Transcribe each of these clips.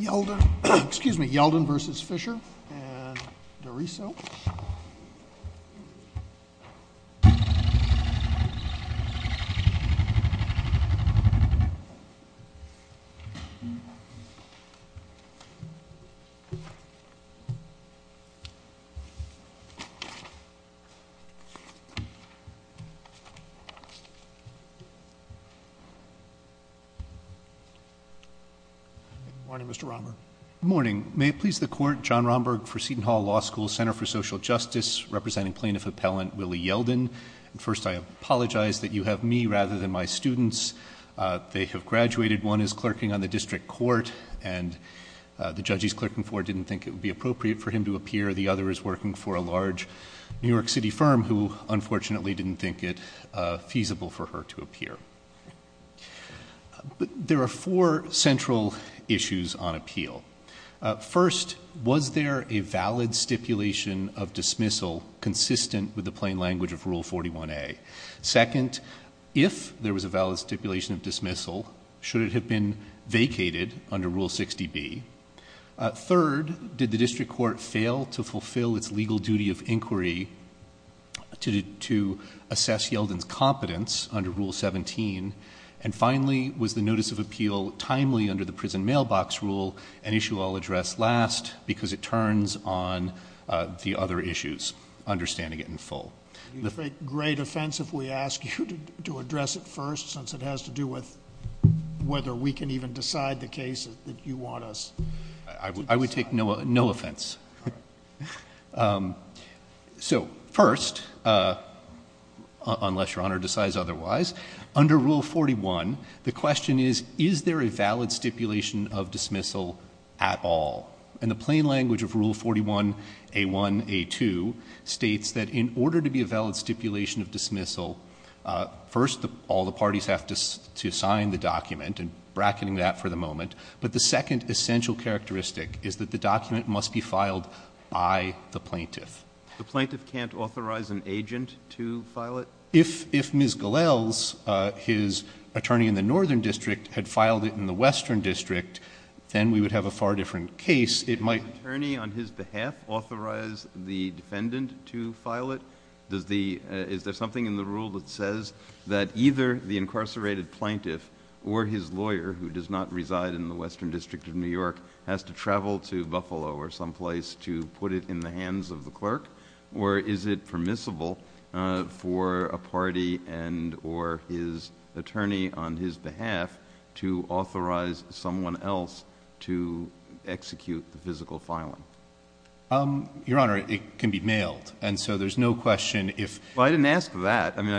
Yeldon, excuse me, Yeldon v. Fisher and DeRiso. Good morning, Mr. Romberg. Morning. May it please the court, John Romberg for Seton Hall Law School Center for Social Justice, representing plaintiff appellant Willie Yeldon. First, I apologize that you have me rather than my students. They have graduated. One is clerking on the district court, and the judge he's clerking for didn't think it would be appropriate for him to appear. The other is working for a large New York City firm who, unfortunately, didn't think it feasible for her to appear. But there are four central issues on appeal. First, was there a valid stipulation of dismissal consistent with the plain language of Rule 41A? Second, if there was a valid stipulation of dismissal, should it have been vacated under Rule 60B? Third, did the district court fail to fulfill its legal duty of inquiry to assess Yeldon's competence under Rule 17? And finally, was the notice of appeal timely under the prison mailbox rule, an issue I'll address last, because it turns on the other issues, understanding it in full? It would be a great offense if we ask you to address it first, since it has to do with whether we can even decide the case that you want us to decide. I would take no offense. So first, unless Your Honor decides otherwise, under Rule 41, the question is, is there a valid stipulation of dismissal at all? And the plain language of Rule 41A1A2 states that in order to be a valid stipulation of dismissal, first, all the parties have to sign the document, and bracketing that for the moment. But the second essential characteristic is that the document must be filed by the plaintiff. The plaintiff can't authorize an agent to file it? If Ms. Gilles, his attorney in the Northern District, had filed it in the Western District, then we would have a far different case. It might. Does the attorney, on his behalf, authorize the defendant to file it? Is there something in the rule that says that either the incarcerated plaintiff or his lawyer, who does not reside in the Western District of New York, has to travel to Buffalo or someplace to put it in the hands of the clerk? Or is it permissible for a party and or his attorney, on his behalf, to authorize someone else to execute the physical filing? Your Honor, it can be mailed. And so there's no question if. Well, I didn't ask that. I mean,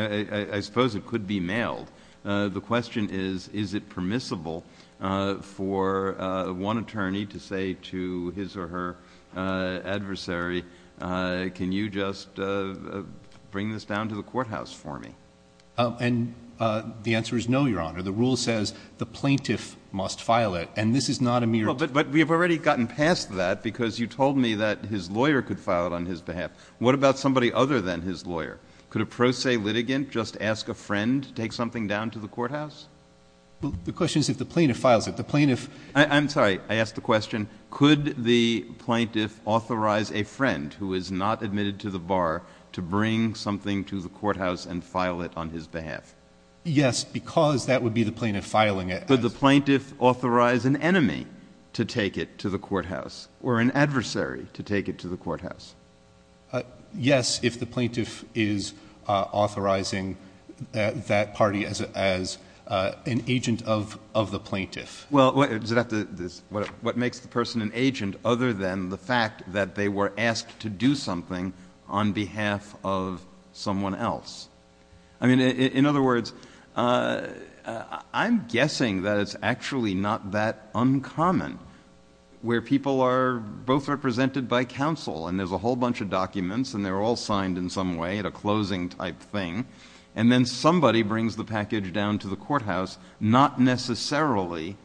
I suppose it could be mailed. The question is, is it permissible for one attorney to say to his or her adversary, can you just bring this down to the courthouse for me? And the answer is no, Your Honor. The rule says the plaintiff must file it. And this is not a mere. But we have already gotten past that. Because you told me that his lawyer could file it on his behalf. Could a pro se litigant just ask a friend to take something down to the courthouse? The question is if the plaintiff files it. I'm sorry. I asked the question, could the plaintiff authorize a friend who is not admitted to the bar to bring something to the courthouse and file it on his behalf? Yes, because that would be the plaintiff filing it. Could the plaintiff authorize an enemy to take it to the courthouse, or an adversary to take it to the courthouse? Yes, if the plaintiff is authorizing that party as an agent of the plaintiff. Well, what makes the person an agent other than the fact that they were asked to do something on behalf of someone else? I mean, in other words, I'm guessing that it's actually not that uncommon where people are both represented by counsel. And there's a whole bunch of documents, and they're all signed in some way at a closing type thing. And then somebody brings the package down to the courthouse, not necessarily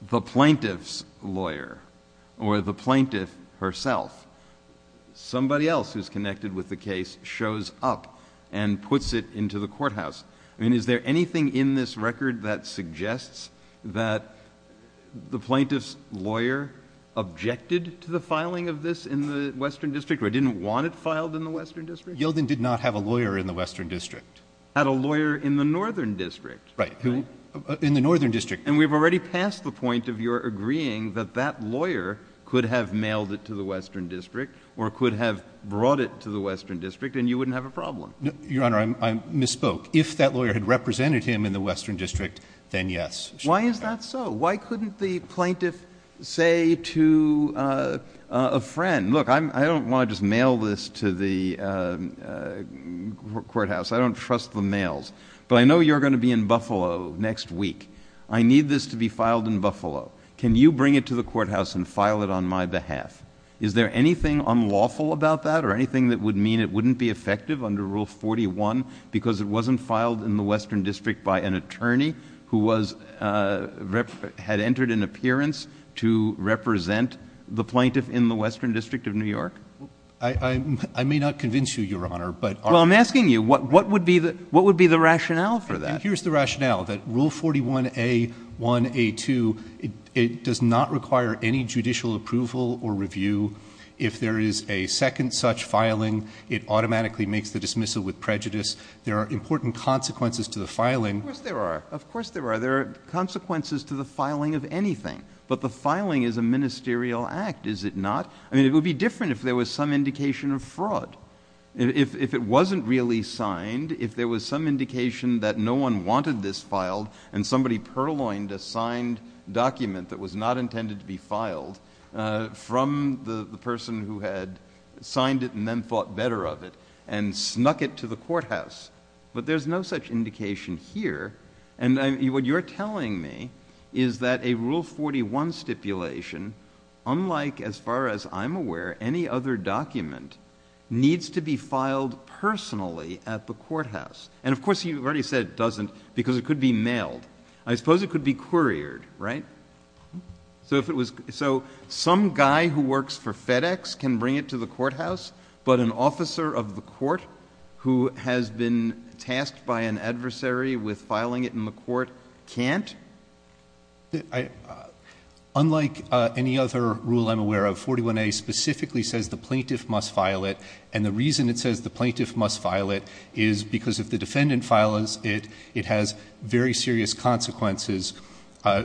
the plaintiff's lawyer or the plaintiff herself. Somebody else who's connected with the case shows up and puts it into the courthouse. I mean, is there anything in this record that suggests that the plaintiff's lawyer objected to the filing of this in the Western District, or didn't want it filed in the Western District? Yeldon did not have a lawyer in the Western District. Had a lawyer in the Northern District. Right, in the Northern District. And we've already passed the point of your agreeing that that lawyer could have mailed it to the Western District, or could have brought it to the Western District, and you wouldn't have a problem. Your Honor, I misspoke. If that lawyer had represented him in the Western District, then yes. Why is that so? Why couldn't the plaintiff say to a friend, look, I don't want to just mail this to the courthouse. I don't trust the mails. But I know you're going to be in Buffalo next week. I need this to be filed in Buffalo. Can you bring it to the courthouse and file it on my behalf? Is there anything unlawful about that, or anything that would mean it wouldn't be effective under Rule 41, because it wasn't filed in the Western District by an attorney who had entered an appearance to represent the plaintiff in the Western District of New York? I may not convince you, Your Honor, but I'm asking you, what would be the rationale for that? Here's the rationale, that Rule 41A1A2, it does not require any judicial approval or review. If there is a second such filing, it automatically makes the dismissal with prejudice. There are important consequences to the filing. Of course there are. Of course there are. There are consequences to the filing of anything. But the filing is a ministerial act, is it not? I mean, it would be different if there was some indication of fraud. If it wasn't really signed, if there was some indication that no one wanted this filed, and somebody purloined a signed document that was not intended to be filed from the person who had signed it and then thought better of it and snuck it to the courthouse. But there's no such indication here. And what you're telling me is that a Rule 41 stipulation, unlike, as far as I'm aware, any other document, needs to be filed personally at the courthouse. And of course, you've already said it doesn't, because it could be mailed. I suppose it could be couriered, right? So some guy who works for FedEx can bring it to the courthouse, but an officer of the court who has been tasked by an adversary with filing it in the court can't? Unlike any other rule I'm aware of, 41A specifically says the plaintiff must file it. And the reason it says the plaintiff must file it is because if the defendant files it, it has very serious consequences. The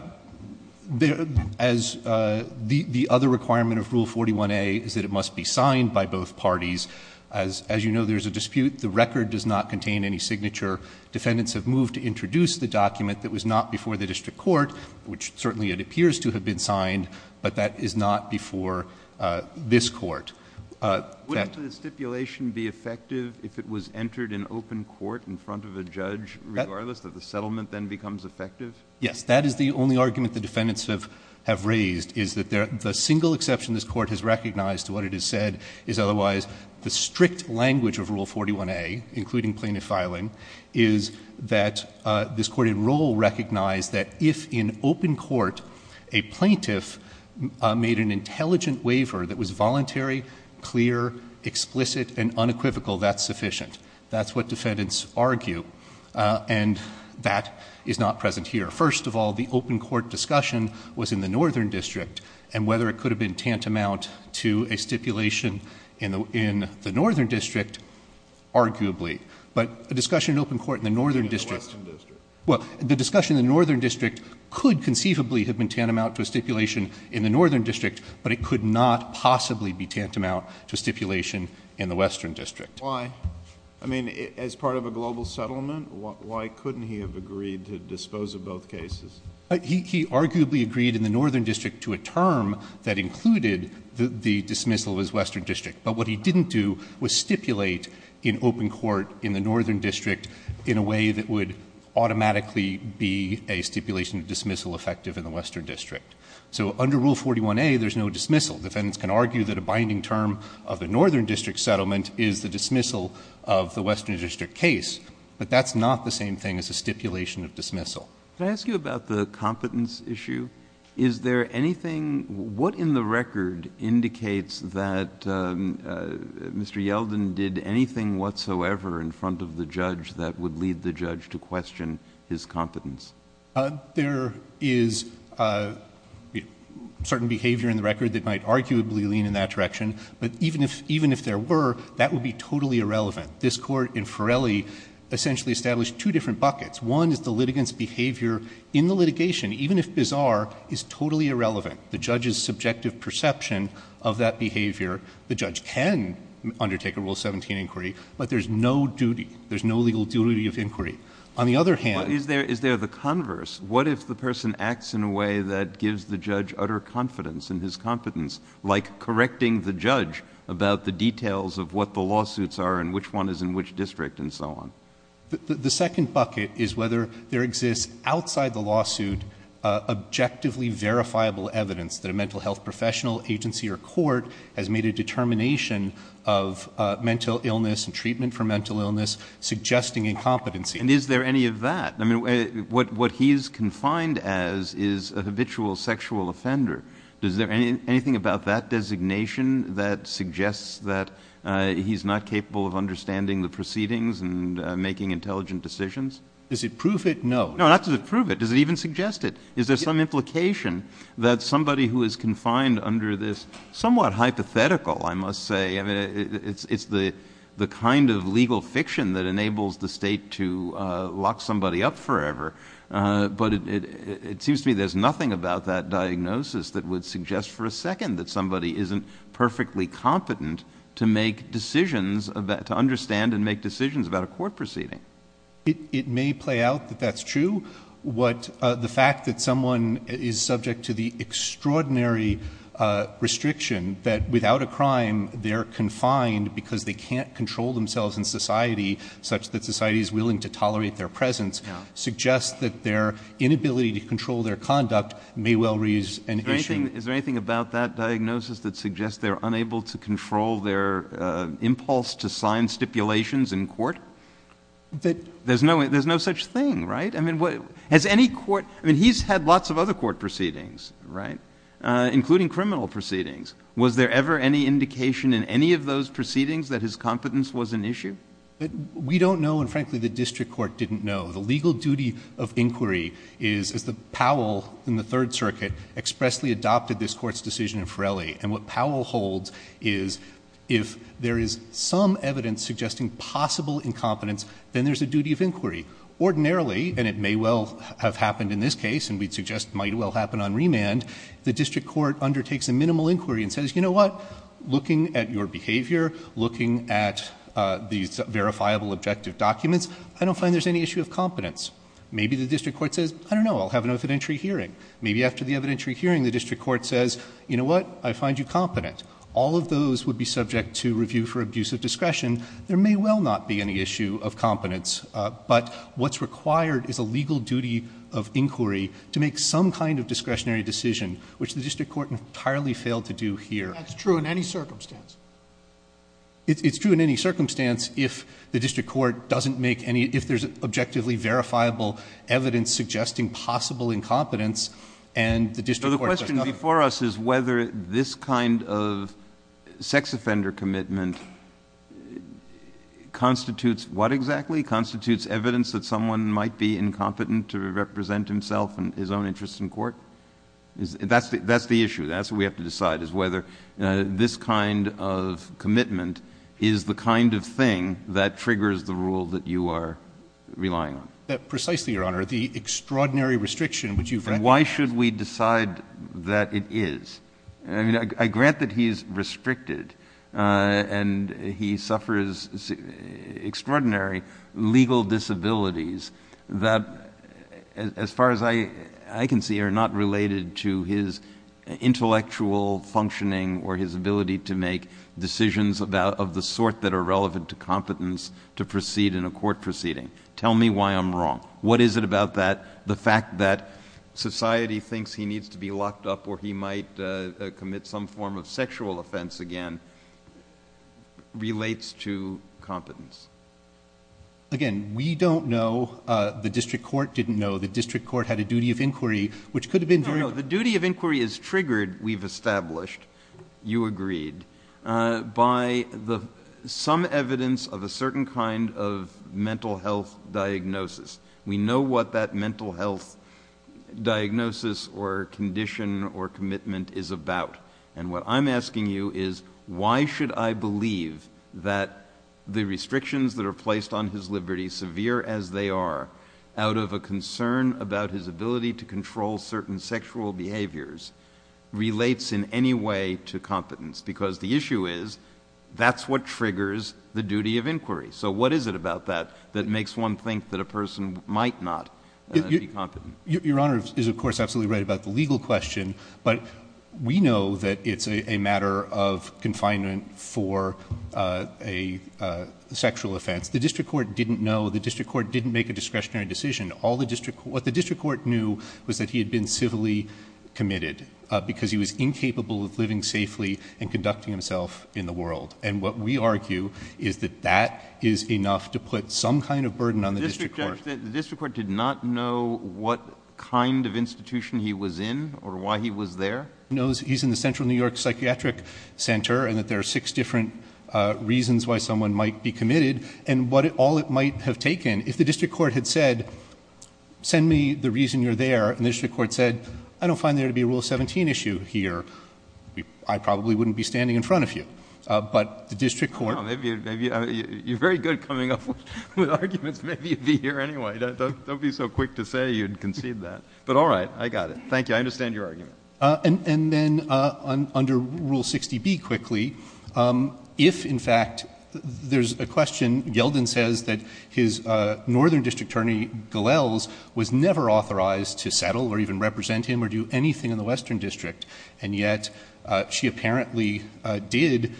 other requirement of Rule 41A is that it must be signed by both parties. As you know, there's a dispute. The record does not contain any signature. Defendants have moved to introduce the document that was not before the district court, which certainly it appears to have been signed, but that is not before this court. Wouldn't the stipulation be effective if it was entered in open court in front of a judge, regardless that the settlement then becomes effective? Yes, that is the only argument the defendants have raised, is that the single exception this court has recognized to what it has said is otherwise the strict language of Rule 41A, including plaintiff filing, is that this court in rule recognized that if in open court a plaintiff made an intelligent waiver that was voluntary, clear, explicit, and unequivocal, that's sufficient. That's what defendants argue. And that is not present here. First of all, the open court discussion was in the northern district. And whether it could have been tantamount to a stipulation in the northern district, arguably. But a discussion in open court in the northern district. Well, the discussion in the northern district could conceivably have been tantamount to a stipulation in the northern district, but it could not possibly be tantamount to a stipulation in the western district. Why? I mean, as part of a global settlement, why couldn't he have agreed to dispose of both cases? He arguably agreed in the northern district to a term that included the dismissal of his western district. But what he didn't do was stipulate in open court in the northern district in a way that would automatically be a stipulation of dismissal effective in the western district. So under Rule 41A, there's no dismissal. Defendants can argue that a binding term of the northern district settlement is the dismissal of the western district case, but that's not the same thing as a stipulation of dismissal. Can I ask you about the competence issue? Is there anything, what in the record indicates that Mr. Yeldon did anything whatsoever in front of the judge that would lead the judge to question his competence? There is certain behavior in the record that might arguably lean in that direction, but even if there were, that would be totally irrelevant. This court in Ferelli essentially established two different buckets. One is the litigant's behavior in the litigation, even if bizarre, is totally irrelevant. The judge's subjective perception of that behavior, the judge can undertake a Rule 17 inquiry, but there's no duty. There's no legal duty of inquiry. On the other hand. Is there the converse? What if the person acts in a way that gives the judge utter confidence in his competence, like correcting the judge about the details of what the lawsuits are and which one is in which district and so on? The second bucket is whether there exists outside the lawsuit objectively verifiable evidence that a mental health professional agency or court has made a determination of mental illness and treatment for mental illness, suggesting incompetency. And is there any of that? I mean, what he is confined as is a habitual sexual offender. Is there anything about that designation that suggests that he's not capable of understanding the proceedings and making intelligent decisions? Does it prove it? No, not to prove it. Does it even suggest it? Is there some implication that somebody who is confined under this somewhat hypothetical, I must say, I mean, it's the kind of legal fiction that enables the state to lock somebody up forever. But it seems to me there's nothing about that diagnosis that would suggest for a second that somebody isn't perfectly competent to make decisions about, to understand and make decisions about a court proceeding. It may play out that that's true. The fact that someone is subject to the extraordinary restriction that without a crime, they're confined because they can't control themselves in society, such that society is willing to tolerate their presence, suggests that their inability to control their conduct may well raise an issue. Is there anything about that diagnosis that suggests they're unable to control their impulse to sign stipulations in court? There's no such thing, right? I mean, has any court, I mean, he's had lots of other court proceedings, right? Including criminal proceedings. Was there ever any indication in any of those proceedings that his competence was an issue? But we don't know, and frankly, the district court didn't know. The legal duty of inquiry is, as the Powell in the Third Circuit expressly adopted this court's decision in Forelli, and what Powell holds is, if there is some evidence suggesting possible incompetence, then there's a duty of inquiry. Ordinarily, and it may well have happened in this case, and we'd suggest might well happen on remand, the district court undertakes a minimal inquiry and says, you know what? Looking at your behavior, looking at these verifiable objective documents, I don't find there's any issue of competence. Maybe the district court says, I don't know, I'll have an evidentiary hearing. Maybe after the evidentiary hearing, the district court says, you know what? I find you competent. All of those would be subject to review for abuse of discretion. There may well not be any issue of competence, but what's required is a legal duty of inquiry to make some kind of discretionary decision, which the district court entirely failed to do here. That's true in any circumstance. It's true in any circumstance if the district court doesn't make any, if there's objectively verifiable evidence suggesting possible incompetence, and the district court says nothing. So the question before us is whether this kind of sex offender commitment constitutes what exactly? Constitutes evidence that someone might be incompetent to represent himself and his own interests in court? That's the issue. That's what we have to decide, is whether this kind of commitment is the kind of thing that triggers the rule that you are relying on. Precisely, Your Honor. The extraordinary restriction which you've read. Why should we decide that it is? I mean, I grant that he's restricted, and he suffers extraordinary legal disabilities that, as far as I can see, are not related to his intellectual functioning or his ability to make decisions of the sort that are relevant to competence to proceed in a court proceeding. Tell me why I'm wrong. What is it about that, the fact that society thinks he needs to be locked up or he might commit some form of sexual offense again, relates to competence? Again, we don't know. The district court didn't know. The district court had a duty of inquiry, which could have been very- No, no, the duty of inquiry is triggered, we've established, you agreed, by some evidence of a certain kind of mental health diagnosis. We know what that mental health diagnosis or condition or commitment is about. And what I'm asking you is, why should I believe that the restrictions that are placed on his liberty, severe as they are, out of a concern about his ability to control certain sexual behaviors, relates in any way to competence? Because the issue is, that's what triggers the duty of inquiry. So what is it about that, that makes one think that a person might not be competent? Your Honor is, of course, absolutely right about the legal question, but we know that it's a matter of confinement for a sexual offense. The district court didn't know, the district court didn't make a discretionary decision. All the district, what the district court knew was that he had been civilly committed, because he was incapable of living safely and conducting himself in the world. And what we argue is that that is enough to put some kind of burden on the district court. The district court did not know what kind of institution he was in, or why he was there? Knows he's in the Central New York Psychiatric Center, and that there are six different reasons why someone might be committed, and what all it might have taken. If the district court had said, send me the reason you're there, and the district court said, I don't find there to be a Rule 17 issue here, I probably wouldn't be standing in front of you. But the district court- Well, maybe you're very good coming up with arguments. Maybe you'd be here anyway. Don't be so quick to say you'd concede that. But all right, I got it. Thank you, I understand your argument. And then, under Rule 60B, quickly, if, in fact, there's a question, Yeldon says that his Northern District Attorney, Gallels, was never authorized to settle, or even represent him, or do anything in the Western District, and yet, she apparently did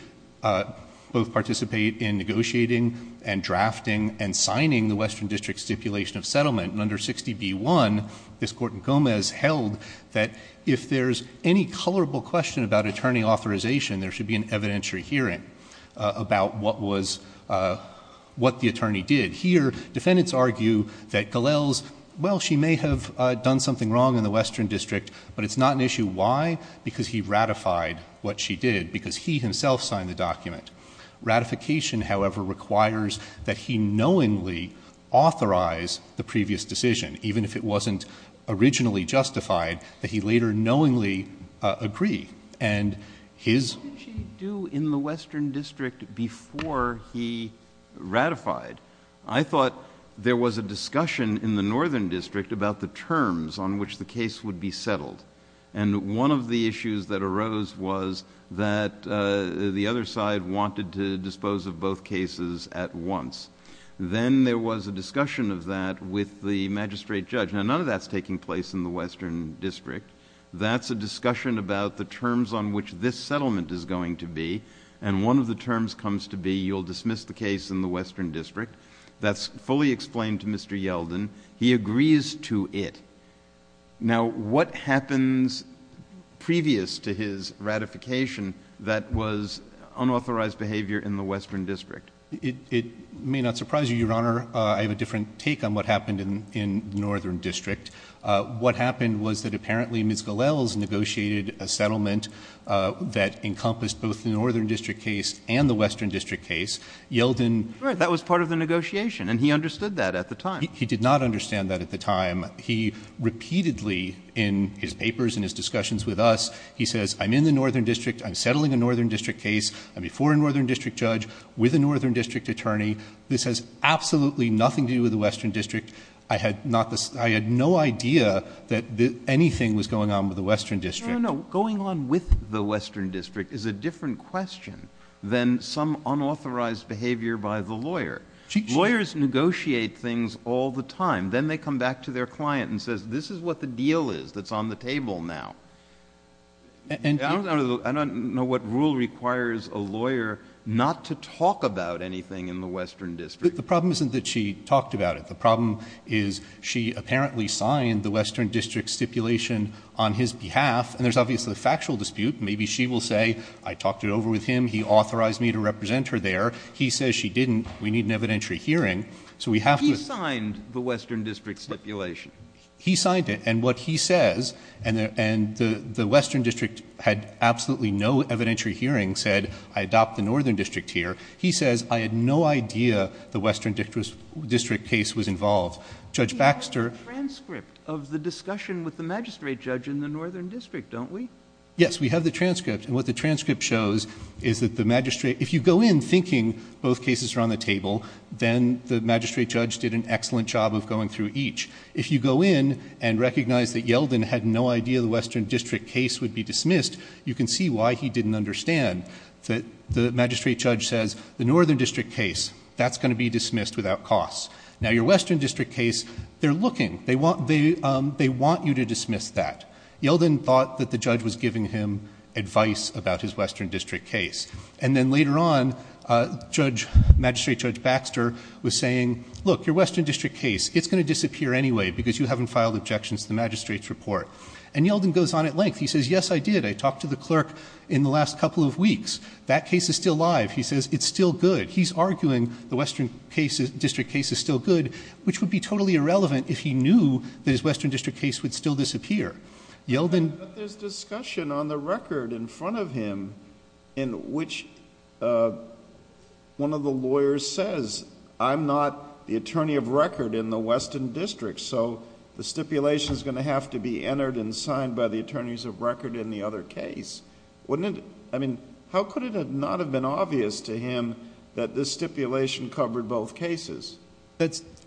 both participate in negotiating, and drafting, and signing the Western District Stipulation of Settlement. And under 60B1, this Court in Gomez held that if there's any colorable question about attorney authorization, there should be an evidentiary hearing about what the attorney did. Here, defendants argue that Gallels, well, she may have done something wrong in the Western District, but it's not an issue. Why? Because he ratified what she did, because he himself signed the document. Ratification, however, requires that he knowingly authorize the previous decision, even if it wasn't originally justified, that he later knowingly agree. And his... What did she do in the Western District before he ratified? I thought there was a discussion in the Northern District about the terms on which the case would be settled. And one of the issues that arose was that the other side wanted to dispose of both cases at once. Then there was a discussion of that with the magistrate judge. Now, none of that's taking place in the Western District. That's a discussion about the terms on which this settlement is going to be. And one of the terms comes to be, you'll dismiss the case in the Western District. That's fully explained to Mr. Yeldon. He agrees to it. Now, what happens previous to his ratification that was unauthorized behavior in the Western District? It may not surprise you, Your Honor. I have a different take on what happened in the Northern District. What happened was that apparently Ms. Gallel's negotiated a settlement that encompassed both the Northern District case and the Western District case. Yeldon... Right, that was part of the negotiation. And he understood that at the time. He did not understand that at the time. He repeatedly, in his papers and his discussions with us, he says, I'm in the Northern District. I'm settling a Northern District case. I'm before a Northern District judge with a Northern District attorney. This has absolutely nothing to do with the Western District. I had no idea that anything was going on with the Western District. No, no, no. Going on with the Western District is a different question than some unauthorized behavior by the lawyer. Lawyers negotiate things all the time. Then they come back to their client and says, this is what the deal is that's on the table now. I don't know what rule requires a lawyer not to talk about anything in the Western District. The problem isn't that she talked about it. The problem is she apparently signed the Western District stipulation on his behalf. And there's obviously a factual dispute. Maybe she will say, I talked it over with him. He authorized me to represent her there. He says she didn't. We need an evidentiary hearing. So we have to... The Western District stipulation. He signed it. And what he says, and the Western District had absolutely no evidentiary hearing, said, I adopt the Northern District here. He says, I had no idea the Western District case was involved. Judge Baxter... We have the transcript of the discussion with the magistrate judge in the Northern District, don't we? Yes, we have the transcript. And what the transcript shows is that the magistrate... If you go in thinking both cases are on the table, then the magistrate judge did an excellent job of going through each. If you go in and recognize that Yeldon had no idea the Western District case would be dismissed, you can see why he didn't understand that the magistrate judge says, the Northern District case, that's gonna be dismissed without costs. Now, your Western District case, they're looking. They want you to dismiss that. Yeldon thought that the judge was giving him advice about his Western District case. And then later on, Magistrate Judge Baxter was saying, look, your Western District case, it's gonna disappear anyway because you haven't filed objections to the magistrate's report. And Yeldon goes on at length. He says, yes, I did. I talked to the clerk in the last couple of weeks. That case is still alive. He says, it's still good. He's arguing the Western District case is still good, which would be totally irrelevant if he knew that his Western District case would still disappear. Yeldon... But there's discussion on the record in front of him in which one of the lawyers says, I'm not the attorney of record in the Western District. So the stipulation is gonna have to be entered and signed by the attorneys of record in the other case. How could it not have been obvious to him that this stipulation covered both cases?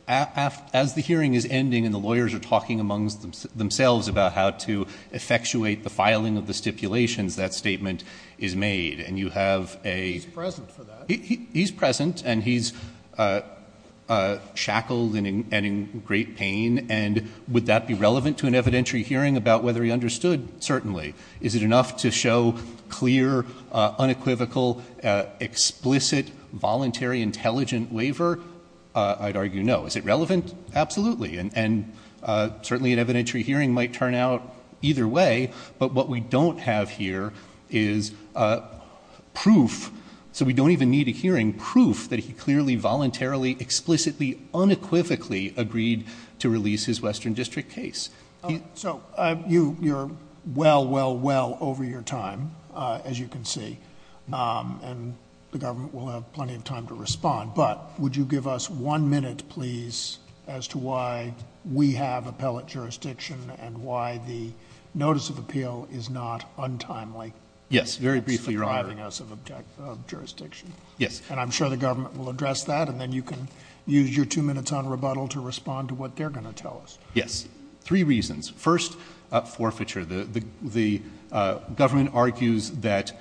As the hearing is ending and the lawyers are talking amongst themselves about how to effectuate the filing of the stipulations, that statement is made. And you have a... He's present for that. Shackled and in great pain. And would that be relevant to an evidentiary hearing about whether he understood? Certainly. Is it enough to show clear, unequivocal, explicit, voluntary, intelligent waiver? I'd argue no. Is it relevant? Absolutely. And certainly an evidentiary hearing might turn out either way. But what we don't have here is proof. So we don't even need a hearing proof that he clearly, voluntarily, explicitly, unequivocally agreed to release his Western District case. So you're well, well, well over your time, as you can see. And the government will have plenty of time to respond. But would you give us one minute, please, as to why we have appellate jurisdiction and why the notice of appeal is not untimely? Yes, very briefly, Your Honor. It's depriving us of jurisdiction. Yes. And I'm sure the government will address that and then you can use your two minutes on rebuttal to respond to what they're gonna tell us. Yes. Three reasons. First, forfeiture. The government argues that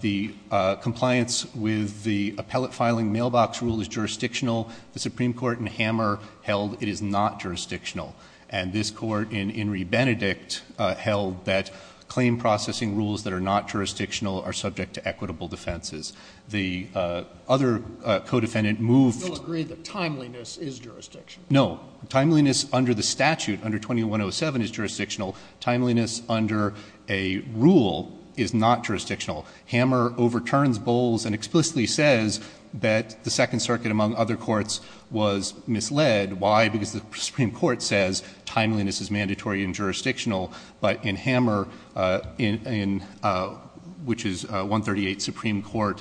the compliance with the appellate filing mailbox rule is jurisdictional. The Supreme Court in Hammer held it is not jurisdictional. And this court in Henry Benedict held that claim processing rules that are not jurisdictional are subject to equitable defenses. The other co-defendant moved- They'll agree that timeliness is jurisdictional. No, timeliness under the statute, under 2107, is jurisdictional. Timeliness under a rule is not jurisdictional. Hammer overturns Bowles and explicitly says that the Second Circuit, among other courts, was misled. Why? Because the Supreme Court says timeliness is mandatory and jurisdictional. But in Hammer, which is 138 Supreme Court,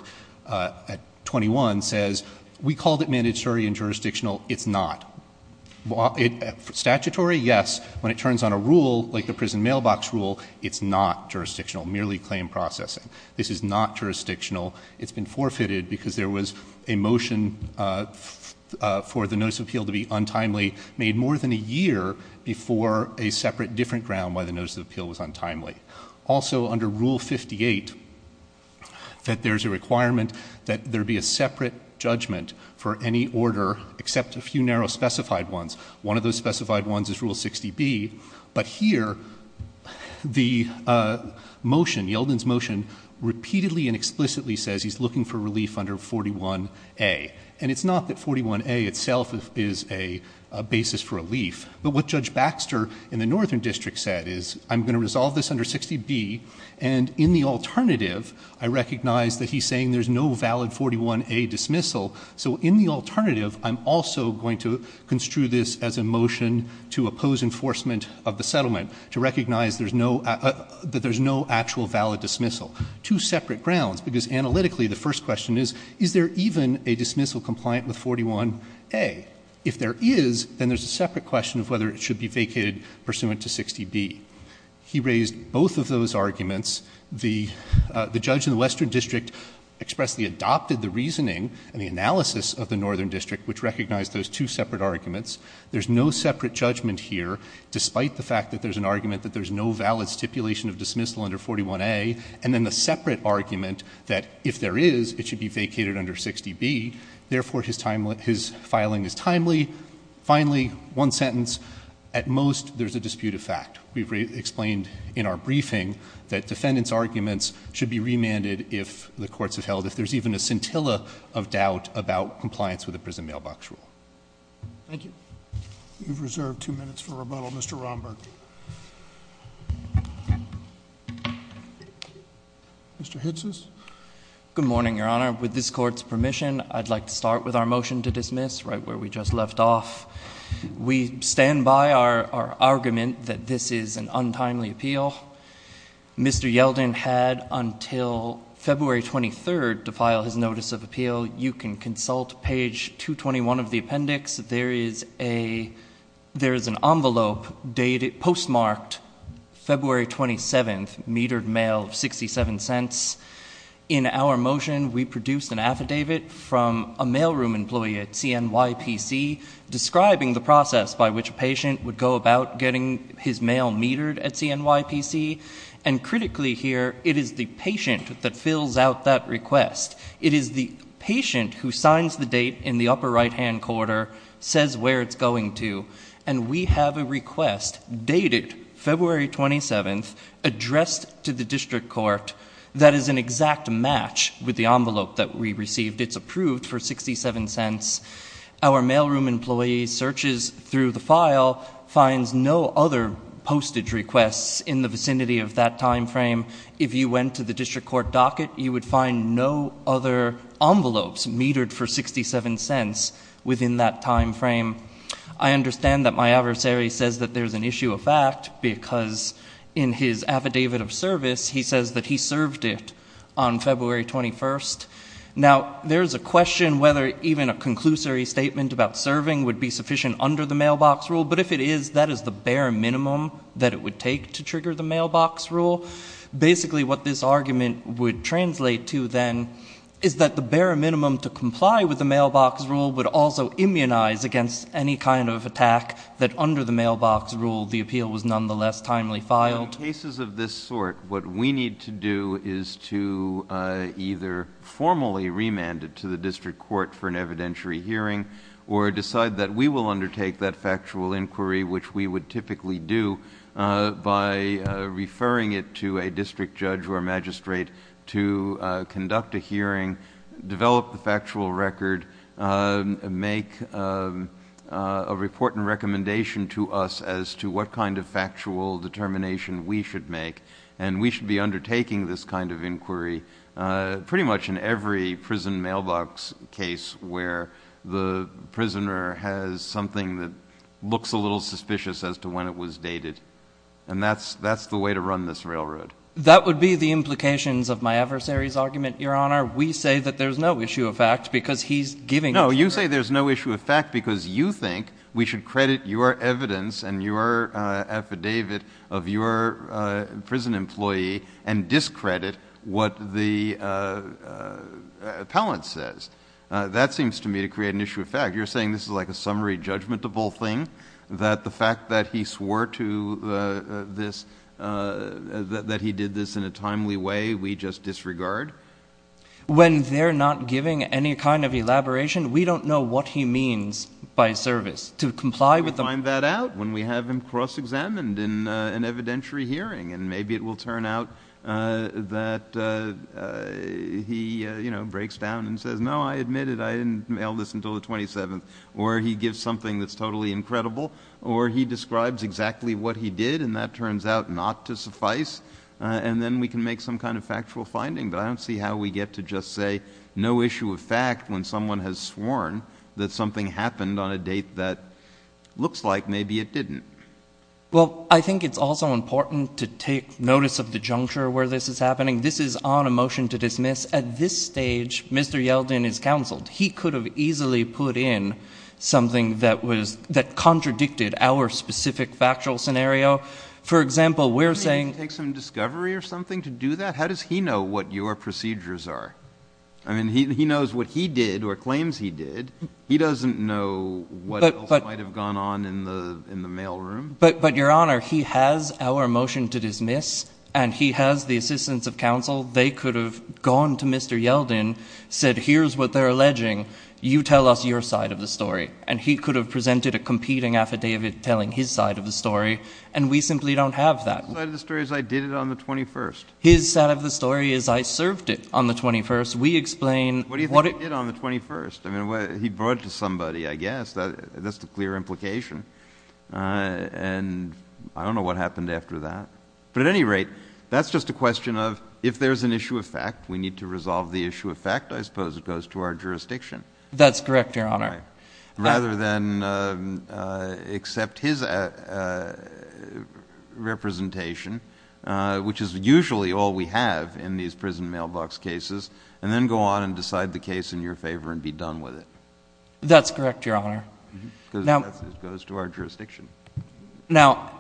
at 21 says, we called it mandatory and jurisdictional. It's not. Statutory, yes. When it turns on a rule, like the prison mailbox rule, it's not jurisdictional, merely claim processing. This is not jurisdictional. It's been forfeited because there was a motion for the notice of appeal to be untimely, made more than a year before a separate, different ground why the notice of appeal was untimely. Also, under Rule 58, that there's a requirement that there be a separate judgment for any order except a few narrow specified ones. One of those specified ones is Rule 60B. But here, the motion, Yelden's motion, repeatedly and explicitly says he's looking for relief under 41A. And it's not that 41A itself is a basis for relief. But what Judge Baxter in the Northern District said is, I'm gonna resolve this under 60B. And in the alternative, I recognize that he's saying there's no valid 41A dismissal. So in the alternative, I'm also going to construe this as a motion to oppose enforcement of the settlement to recognize that there's no actual valid dismissal. Two separate grounds. Because analytically, the first question is, is there even a dismissal compliant with 41A? If there is, then there's a separate question of whether it should be vacated pursuant to 60B. He raised both of those arguments. The judge in the Western District expressly adopted the reasoning and the analysis of the Northern District, which recognized those two separate arguments. There's no separate judgment here, despite the fact that there's an argument that there's no valid stipulation of dismissal under 41A. And then the separate argument that if there is, it should be vacated under 60B. Therefore, his filing is timely. Finally, one sentence. At most, there's a dispute of fact. We've explained in our briefing that defendants' arguments should be remanded if the courts have held, if there's even a scintilla of doubt about compliance with the prison mailbox rule. Thank you. You've reserved two minutes for rebuttal. Mr. Romberg. Mr. Hitsis. Good morning, Your Honor. With this court's permission, I'd like to start with our motion to dismiss, right where we just left off. We stand by our argument that this is an untimely appeal. Mr. Yeldon had until February 23rd to file his notice of appeal. You can consult page 221 of the appendix. There is an envelope postmarked February 27th, metered mail of 67 cents. In our motion, we produced an affidavit from a mailroom employee at CNYPC, describing the process by which a patient would go about getting his mail metered at CNYPC, and critically here, it is the patient that fills out that request. It is the patient who signs the date in the upper right-hand corner, says where it's going to, and we have a request dated February 27th, addressed to the district court, that is an exact match with the envelope that we received, it's approved for 67 cents. Our mailroom employee searches through the file, finds no other postage requests in the vicinity of that timeframe. If you went to the district court docket, you would find no other envelopes metered for 67 cents within that timeframe. I understand that my adversary says because in his affidavit of service, he says that he served it on February 21st. Now, there's a question whether even a conclusory statement about serving would be sufficient under the mailbox rule, but if it is, that is the bare minimum that it would take to trigger the mailbox rule. Basically, what this argument would translate to then is that the bare minimum to comply with the mailbox rule would also immunize against any kind of attack that under the mailbox rule, the appeal was nonetheless timely filed. In cases of this sort, what we need to do is to either formally remand it to the district court for an evidentiary hearing, or decide that we will undertake that factual inquiry, which we would typically do by referring it to a district judge or magistrate to conduct a hearing, develop the factual record, make a report and recommendation to us as to what kind of factual determination we should make. And we should be undertaking this kind of inquiry pretty much in every prison mailbox case where the prisoner has something that looks a little suspicious as to when it was dated. And that's the way to run this railroad. That would be the implications of my adversary's argument, Your Honor. We say that there's no issue of fact because he's giving- No, you say there's no issue of fact because you think we should credit your evidence and your affidavit of your prison employee and discredit what the appellant says. That seems to me to create an issue of fact. You're saying this is like a summary judgmentable thing, that the fact that he swore to this, that he did this in a timely way, we just disregard? When they're not giving any kind of elaboration, To comply with the- We'll find that out when we have him cross-examined in an evidentiary hearing. And maybe it will turn out that he breaks down and says, no, I admit it. I didn't mail this until the 27th. Or he gives something that's totally incredible. Or he describes exactly what he did and that turns out not to suffice. And then we can make some kind of factual finding. But I don't see how we get to just say no issue of fact when someone has sworn that something happened on a date that looks like maybe it didn't. Well, I think it's also important to take notice of the juncture where this is happening. This is on a motion to dismiss. At this stage, Mr. Yeldon is counseled. He could have easily put in something that contradicted our specific factual scenario. For example, we're saying- Do you need to take some discovery or something to do that? How does he know what your procedures are? I mean, he knows what he did or claims he did. He doesn't know what else might have gone on in the mail room. But Your Honor, he has our motion to dismiss and he has the assistance of counsel. They could have gone to Mr. Yeldon, said here's what they're alleging. You tell us your side of the story. And he could have presented a competing affidavit telling his side of the story. And we simply don't have that. His side of the story is I did it on the 21st. His side of the story is I served it on the 21st. We explain- What do you think he did on the 21st? He brought it to somebody, I guess. That's the clear implication. And I don't know what happened after that. But at any rate, that's just a question of if there's an issue of fact, we need to resolve the issue of fact, I suppose it goes to our jurisdiction. That's correct, Your Honor. Rather than accept his representation, which is usually all we have in these prison mailbox cases, and then go on and decide the case in your favor and be done with it. That's correct, Your Honor. Because it goes to our jurisdiction. Now,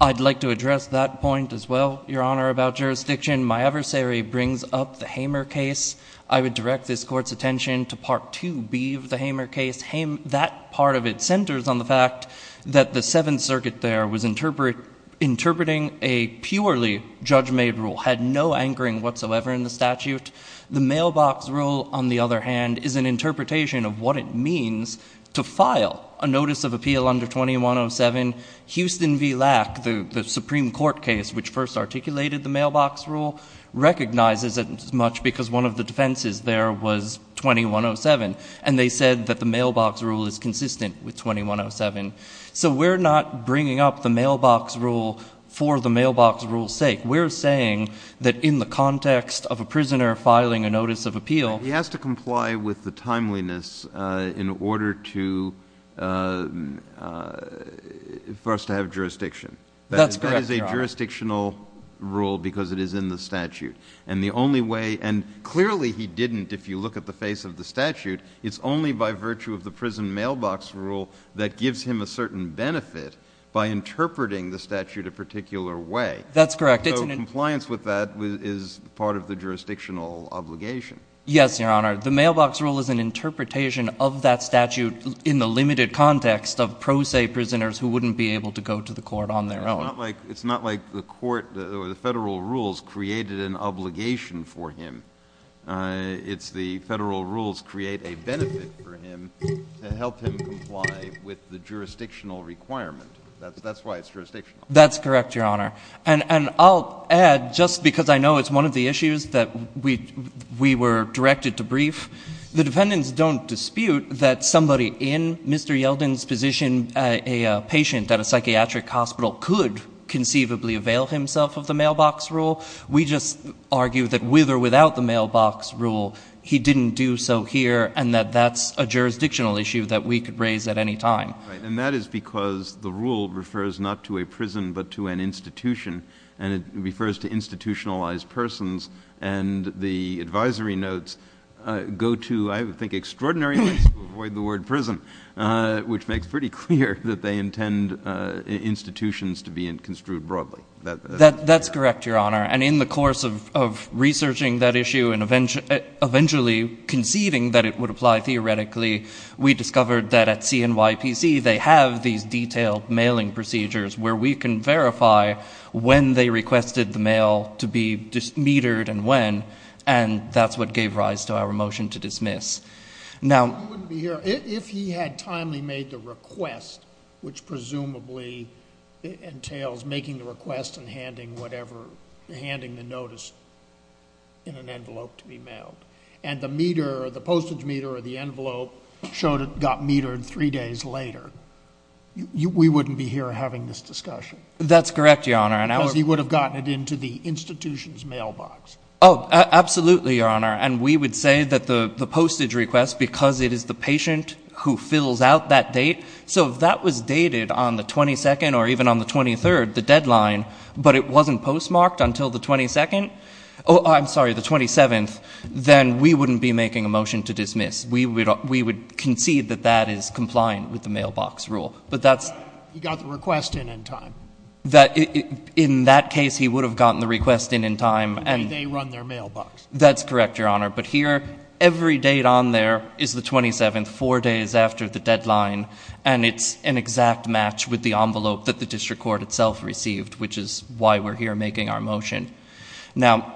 I'd like to address that point as well, Your Honor, about jurisdiction. My adversary brings up the Hamer case. I would direct this court's attention to Part 2B of the Hamer case. That part of it centers on the fact that the Seventh Circuit there was interpreting a purely judge-made rule, had no anchoring whatsoever in the statute. The mailbox rule, on the other hand, is an interpretation of what it means to file a notice of appeal under 2107. Houston v. Lack, the Supreme Court case, which first articulated the mailbox rule, recognizes it as much because one of the defenses there was 2107, and they said that the mailbox rule is consistent with 2107. So we're not bringing up the mailbox rule for the mailbox rule's sake. We're saying that in the context of a prisoner filing a notice of appeal. He has to comply with the timeliness in order for us to have jurisdiction. That's correct, Your Honor. That is a jurisdictional rule because it is in the statute. And the only way, and clearly he didn't, if you look at the face of the statute, it's only by virtue of the prison mailbox rule that gives him a certain benefit by interpreting the statute a particular way. That's correct. So compliance with that is part of the jurisdictional obligation. Yes, Your Honor. The mailbox rule is an interpretation of that statute in the limited context of pro se prisoners who wouldn't be able to go to the court on their own. It's not like the court or the federal rules created an obligation for him. It's the federal rules create a benefit for him and help him comply with the jurisdictional requirement. That's why it's jurisdictional. That's correct, Your Honor. And I'll add, just because I know it's one of the issues that we were directed to brief, the defendants don't dispute that somebody in Mr. Yeldon's position, a patient at a psychiatric hospital could conceivably avail himself of the mailbox rule. We just argue that with or without the mailbox rule, he didn't do so here and that that's a jurisdictional issue that we could raise at any time. Right, and that is because the rule refers not to a prison, but to an institution. And it refers to institutionalized persons. And the advisory notes go to, I think, extraordinary ways to avoid the word prison, which makes pretty clear that they intend institutions to be construed broadly. That's correct, Your Honor. And in the course of researching that issue and eventually conceiving that it would apply theoretically, we discovered that at CNYPC, they have these detailed mailing procedures where we can verify when they requested the mail to be metered and when, and that's what gave rise to our motion to dismiss. Now- We wouldn't be here if he had timely made the request, which presumably entails making the request and handing the notice in an envelope to be mailed. And the meter, the postage meter or the envelope showed it got metered three days later. We wouldn't be here having this discussion. That's correct, Your Honor. Because he would have gotten it into the institution's mailbox. Oh, absolutely, Your Honor. And we would say that the postage request, because it is the patient who fills out that date, so if that was dated on the 22nd or even on the 23rd, the deadline, but it wasn't postmarked until the 22nd, oh, I'm sorry, the 27th, then we wouldn't be making a motion to dismiss. We would concede that that is compliant with the mailbox rule. But that's- He got the request in in time. That, in that case, he would have gotten the request in in time. And they run their mailbox. That's correct, Your Honor. But here, every date on there is the 27th, four days after the deadline. And it's an exact match with the envelope that the district court itself received, which is why we're here making our motion. Now,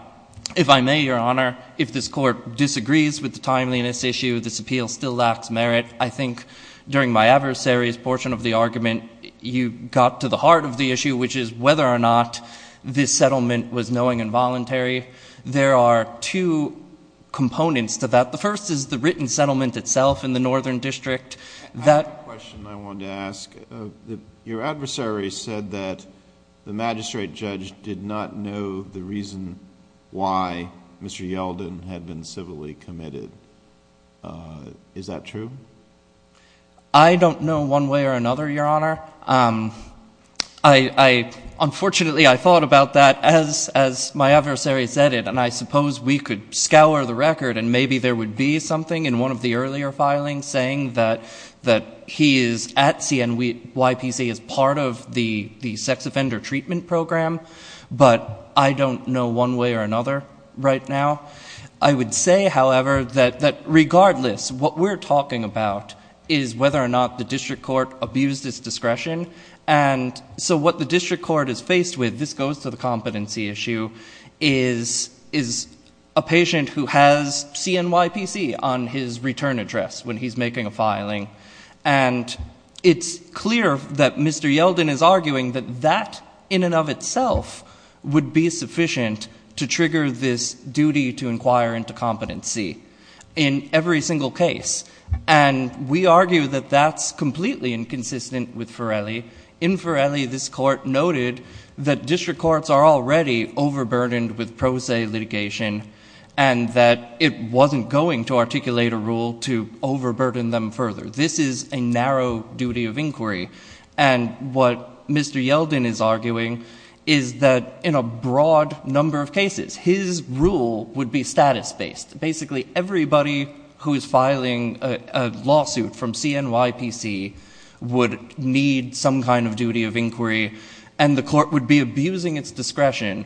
if I may, Your Honor, if this court disagrees with the timeliness issue, this appeal still lacks merit. I think during my adversary's portion of the argument, you got to the heart of the issue, which is whether or not this settlement was knowing and voluntary. There are two components to that. The first is the written settlement itself in the Northern District. That- I have a question I wanted to ask. Your adversary said that the magistrate judge did not know the reason why Mr. Yelden had been civilly committed. Is that true? I don't know one way or another, Your Honor. Unfortunately, I thought about that as my adversary said it. And I suppose we could scour the record and maybe there would be something in one of the earlier filings saying that he is at CNYPC as part of the sex offender treatment program, but I don't know one way or another right now. I would say, however, that regardless, what we're talking about is whether or not the district court abused its discretion. And so what the district court is faced with, this goes to the competency issue, is a patient who has CNYPC on his return address when he's making a filing. And it's clear that Mr. Yelden is arguing that that in and of itself would be sufficient to trigger this duty to inquire into competency in every single case. And we argue that that's completely inconsistent with Forelli. In Forelli, this court noted that district courts are already overburdened with pro se litigation and that it wasn't going to articulate a rule to overburden them further. This is a narrow duty of inquiry. And what Mr. Yelden is arguing is that in a broad number of cases, his rule would be status-based. Basically, everybody who is filing a lawsuit from CNYPC would need some kind of duty of inquiry and the court would be abusing its discretion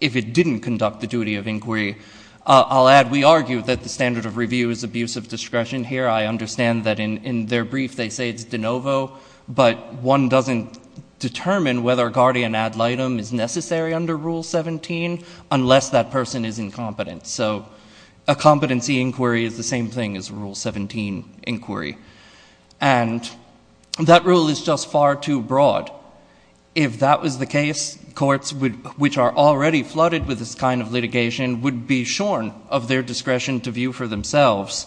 if it didn't conduct the duty of inquiry. I'll add, we argue that the standard of review is abuse of discretion here. I understand that in their brief, they say it's de novo, but one doesn't determine whether a guardian ad litem is necessary under Rule 17 unless that person is incompetent. So a competency inquiry is the same thing as a Rule 17 inquiry. And that rule is just far too broad. If that was the case, courts which are already flooded with this kind of litigation would be shorn of their discretion to view for themselves.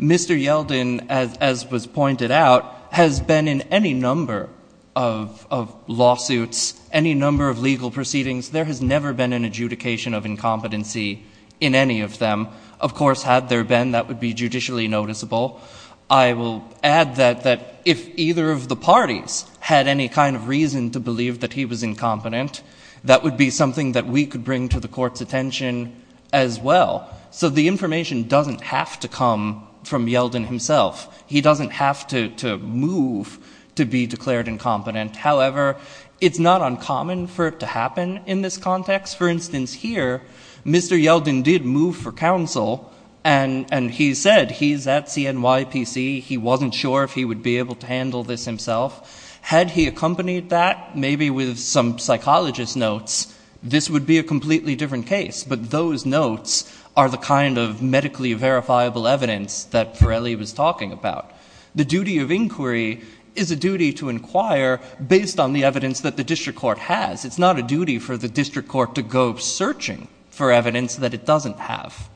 Mr. Yelden, as was pointed out, has been in any number of lawsuits, any number of legal proceedings, there has never been an adjudication of incompetency in any of them. Of course, had there been, that would be judicially noticeable. I will add that if either of the parties had any kind of reason to believe that he was incompetent, that would be something that we could bring to the court's attention as well. So the information doesn't have to come from Yelden himself. He doesn't have to move to be declared incompetent. However, it's not uncommon for it to happen in this context. For instance, here, Mr. Yelden did move for counsel and he said he's at CNYPC, he wasn't sure if he would be able to handle this himself. Had he accompanied that, maybe with some psychologist notes, this would be a completely different case. But those notes are the kind of medically verifiable evidence that Forelli was talking about. The duty of inquiry is a duty to inquire based on the evidence that the district court has. It's not a duty for the district court to go searching for evidence that it doesn't have.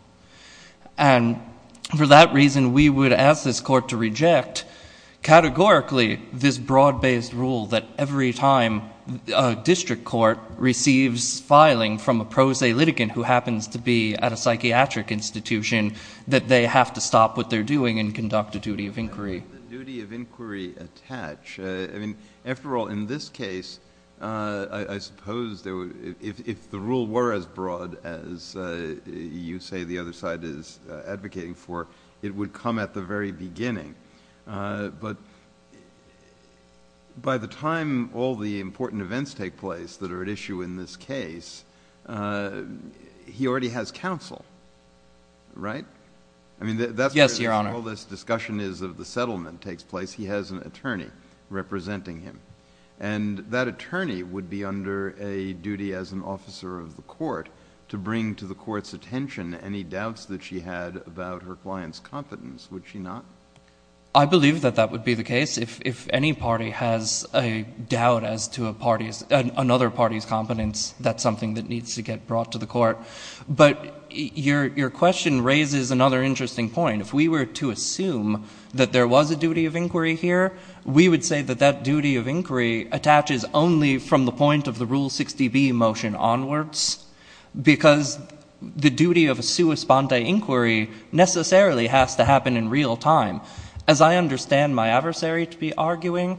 And for that reason, we would ask this court to reject categorically this broad-based rule that every time a district court receives filing from a pro se litigant who happens to be at a psychiatric institution, that they have to stop what they're doing and conduct a duty of inquiry. The duty of inquiry attach. After all, in this case, I suppose if the rule were as broad as you say the other side is advocating for, it would come at the very beginning. But by the time all the important events take place that are at issue in this case, he already has counsel, right? I mean, that's where all this discussion is of the settlement takes place. He has an attorney representing him. And that attorney would be under a duty as an officer of the court to bring to the court's attention any doubts that she had about her client's competence. Would she not? I believe that that would be the case. If any party has a doubt as to another party's competence, that's something that needs to get brought to the court. But your question raises another interesting point. If we were to assume that there was a duty of inquiry here, we would say that that duty of inquiry attaches only from the point of the Rule 60B motion onwards because the duty of a sua sponte inquiry necessarily has to happen in real time. As I understand my adversary to be arguing,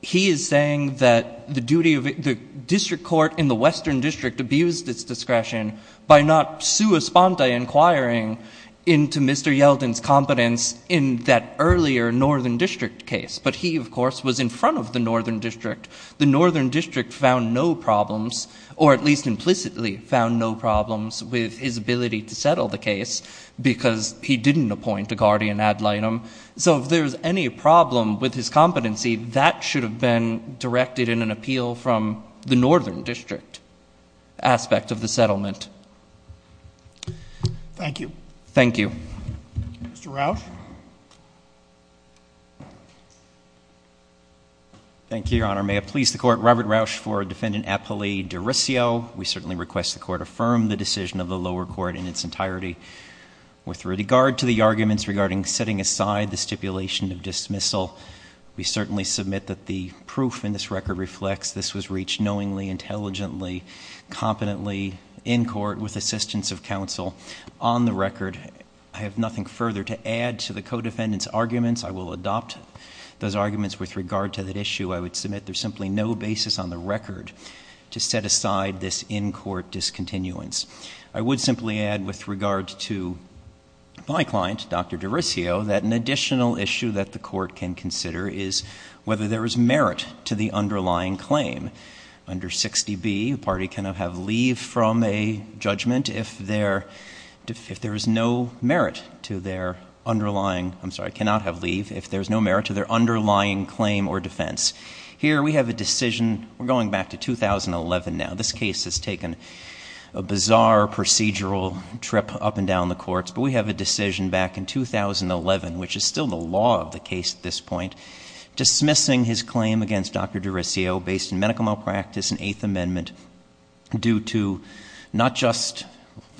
he is saying that the district court in the Western District abused its discretion by not sua sponte inquiring into Mr. Yeldon's competence in that earlier Northern District case. But he, of course, was in front of the Northern District. The Northern District found no problems, or at least implicitly found no problems with his ability to settle the case because he didn't appoint a guardian ad litem. So if there's any problem with his competency, that should have been directed in an appeal from the Northern District aspect of the settlement. Thank you. Thank you. Mr. Rauch. Thank you, Your Honor. May it please the court, Robert Rauch for defendant Apolli D'Aressio. We certainly request the court affirm the decision of the lower court in its entirety. With regard to the arguments regarding setting aside the stipulation of dismissal, we certainly submit that the proof in this record reflects this was reached knowingly, intelligently, competently in court with assistance of counsel. On the record, I have nothing further to add to the co-defendant's arguments. I will adopt those arguments with regard to that issue. I would submit there's simply no basis on the record to set aside this in-court discontinuance. I would simply add with regard to my client, Dr. D'Aressio, that an additional issue that the court can consider is whether there is merit to the underlying claim. Under 60B, a party cannot have leave from a judgment if there is no merit to their underlying, I'm sorry, cannot have leave if there's no merit to their underlying claim or defense. Here we have a decision, we're going back to 2011 now. This case has taken a bizarre procedural trip up and down the courts, but we have a decision back in 2011, which is still the law of the case at this point, dismissing his claim against Dr. D'Aressio based in medical malpractice and Eighth Amendment due to not just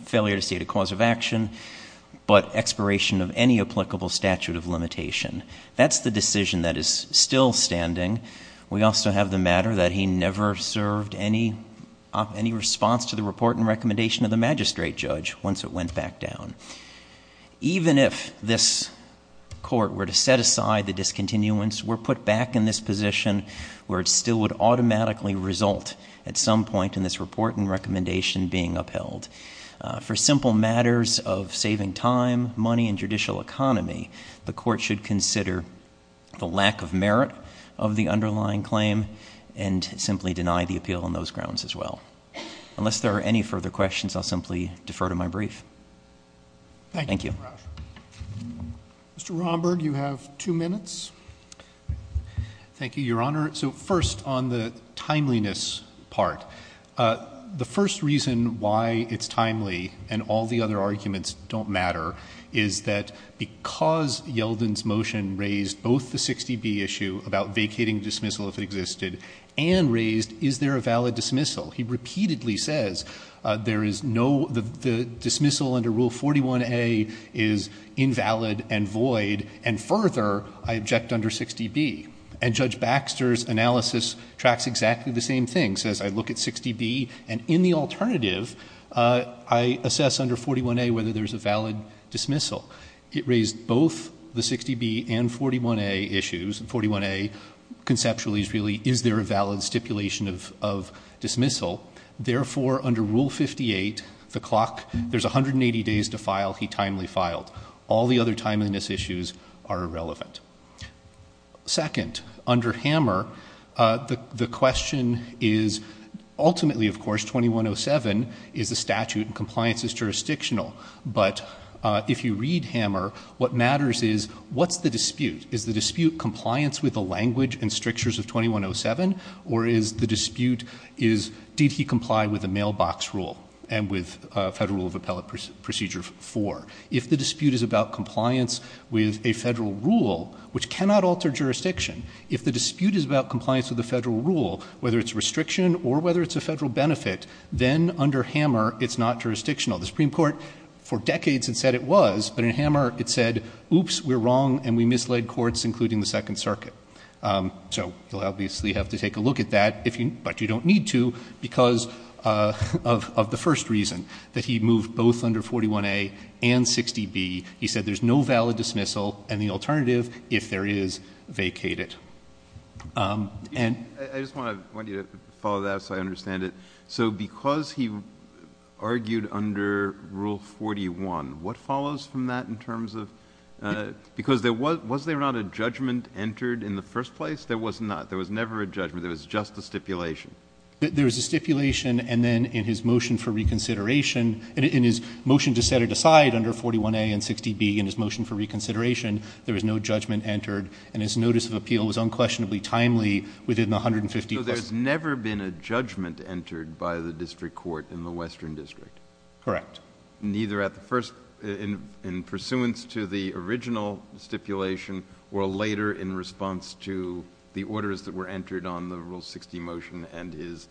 failure to state a cause of action, but expiration of any applicable statute of limitation. That's the decision that is still standing. We also have the matter that he never served any response to the report and recommendation of the magistrate judge once it went back down. Even if this court were to set aside the discontinuance, we're put back in this position where it still would automatically result at some point in this report and recommendation being upheld. For simple matters of saving time, money, and judicial economy, the court should consider the lack of merit of the underlying claim and simply deny the appeal on those grounds as well. Unless there are any further questions, I'll simply defer to my brief. Thank you. Mr. Romberg, you have two minutes. Thank you, your honor. So first on the timeliness part, the first reason why it's timely and all the other arguments don't matter is that because Yeldon's motion raised both the 60B issue about vacating dismissal if it existed and raised is there a valid dismissal. He repeatedly says there is no, the dismissal under Rule 41A is invalid and void and further, I object under 60B. And Judge Baxter's analysis tracks exactly the same thing, says I look at 60B and in the alternative, I assess under 41A whether there's a valid dismissal. It raised both the 60B and 41A issues. 41A conceptually is really, is there a valid stipulation of dismissal? Therefore, under Rule 58, the clock, there's 180 days to file, he timely filed. All the other timeliness issues are irrelevant. Second, under Hammer, the question is, ultimately, of course, 2107 is the statute and compliance is jurisdictional. But if you read Hammer, what matters is what's the dispute? Is the dispute compliance with the language and strictures of 2107? Or is the dispute is, did he comply with the mailbox rule and with Federal Rule of Appellate Procedure 4? If the dispute is about compliance with a federal rule, which cannot alter jurisdiction, if the dispute is about compliance with the federal rule, whether it's restriction or whether it's a federal benefit, then under Hammer, it's not jurisdictional. The Supreme Court, for decades, it said it was, but in Hammer, it said, oops, we're wrong, and we misled courts, including the Second Circuit. So you'll obviously have to take a look at that, but you don't need to because of the first reason, that he moved both under 41A and 60B. He said there's no valid dismissal and the alternative, if there is, vacate it. I just want you to follow that so I understand it. So because he argued under Rule 41, what follows from that in terms of, because was there not a judgment entered in the first place? There was not. There was never a judgment. There was just a stipulation. There was a stipulation, and then in his motion for reconsideration, in his motion to set it aside under 41A and 60B, in his motion for reconsideration, there was no judgment entered, and his notice of appeal was unquestionably timely within the 150 plus. So there's never been a judgment entered by the district court in the Western District? Correct. Neither at the first, in pursuance to the original stipulation, or later in response to the orders that were entered on the Rule 60 motion and his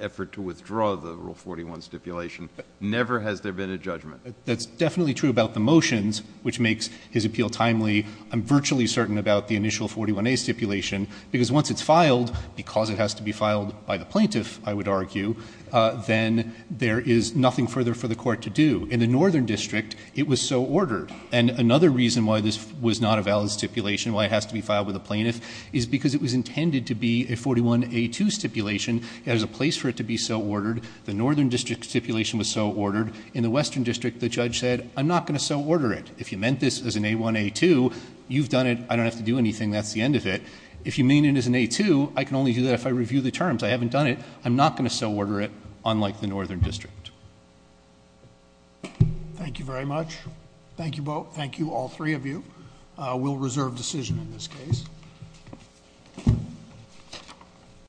effort to withdraw the Rule 41 stipulation, never has there been a judgment? That's definitely true about the motions, which makes his appeal timely. I'm virtually certain about the initial 41A stipulation, because once it's filed, because it has to be filed by the plaintiff, I would argue, then there is nothing further for the court to do. In the Northern District, it was so ordered. And another reason why this was not a valid stipulation, why it has to be filed with a plaintiff, is because it was intended to be a 41A2 stipulation. There's a place for it to be so ordered. The Northern District stipulation was so ordered. In the Western District, the judge said, I'm not gonna so order it. If you meant this as an A1, A2, you've done it. I don't have to do anything. That's the end of it. If you mean it as an A2, I can only do that if I review the terms. I haven't done it. I'm not gonna so order it, unlike the Northern District. Thank you very much. Thank you both. Thank you, all three of you. We'll reserve decision in this case.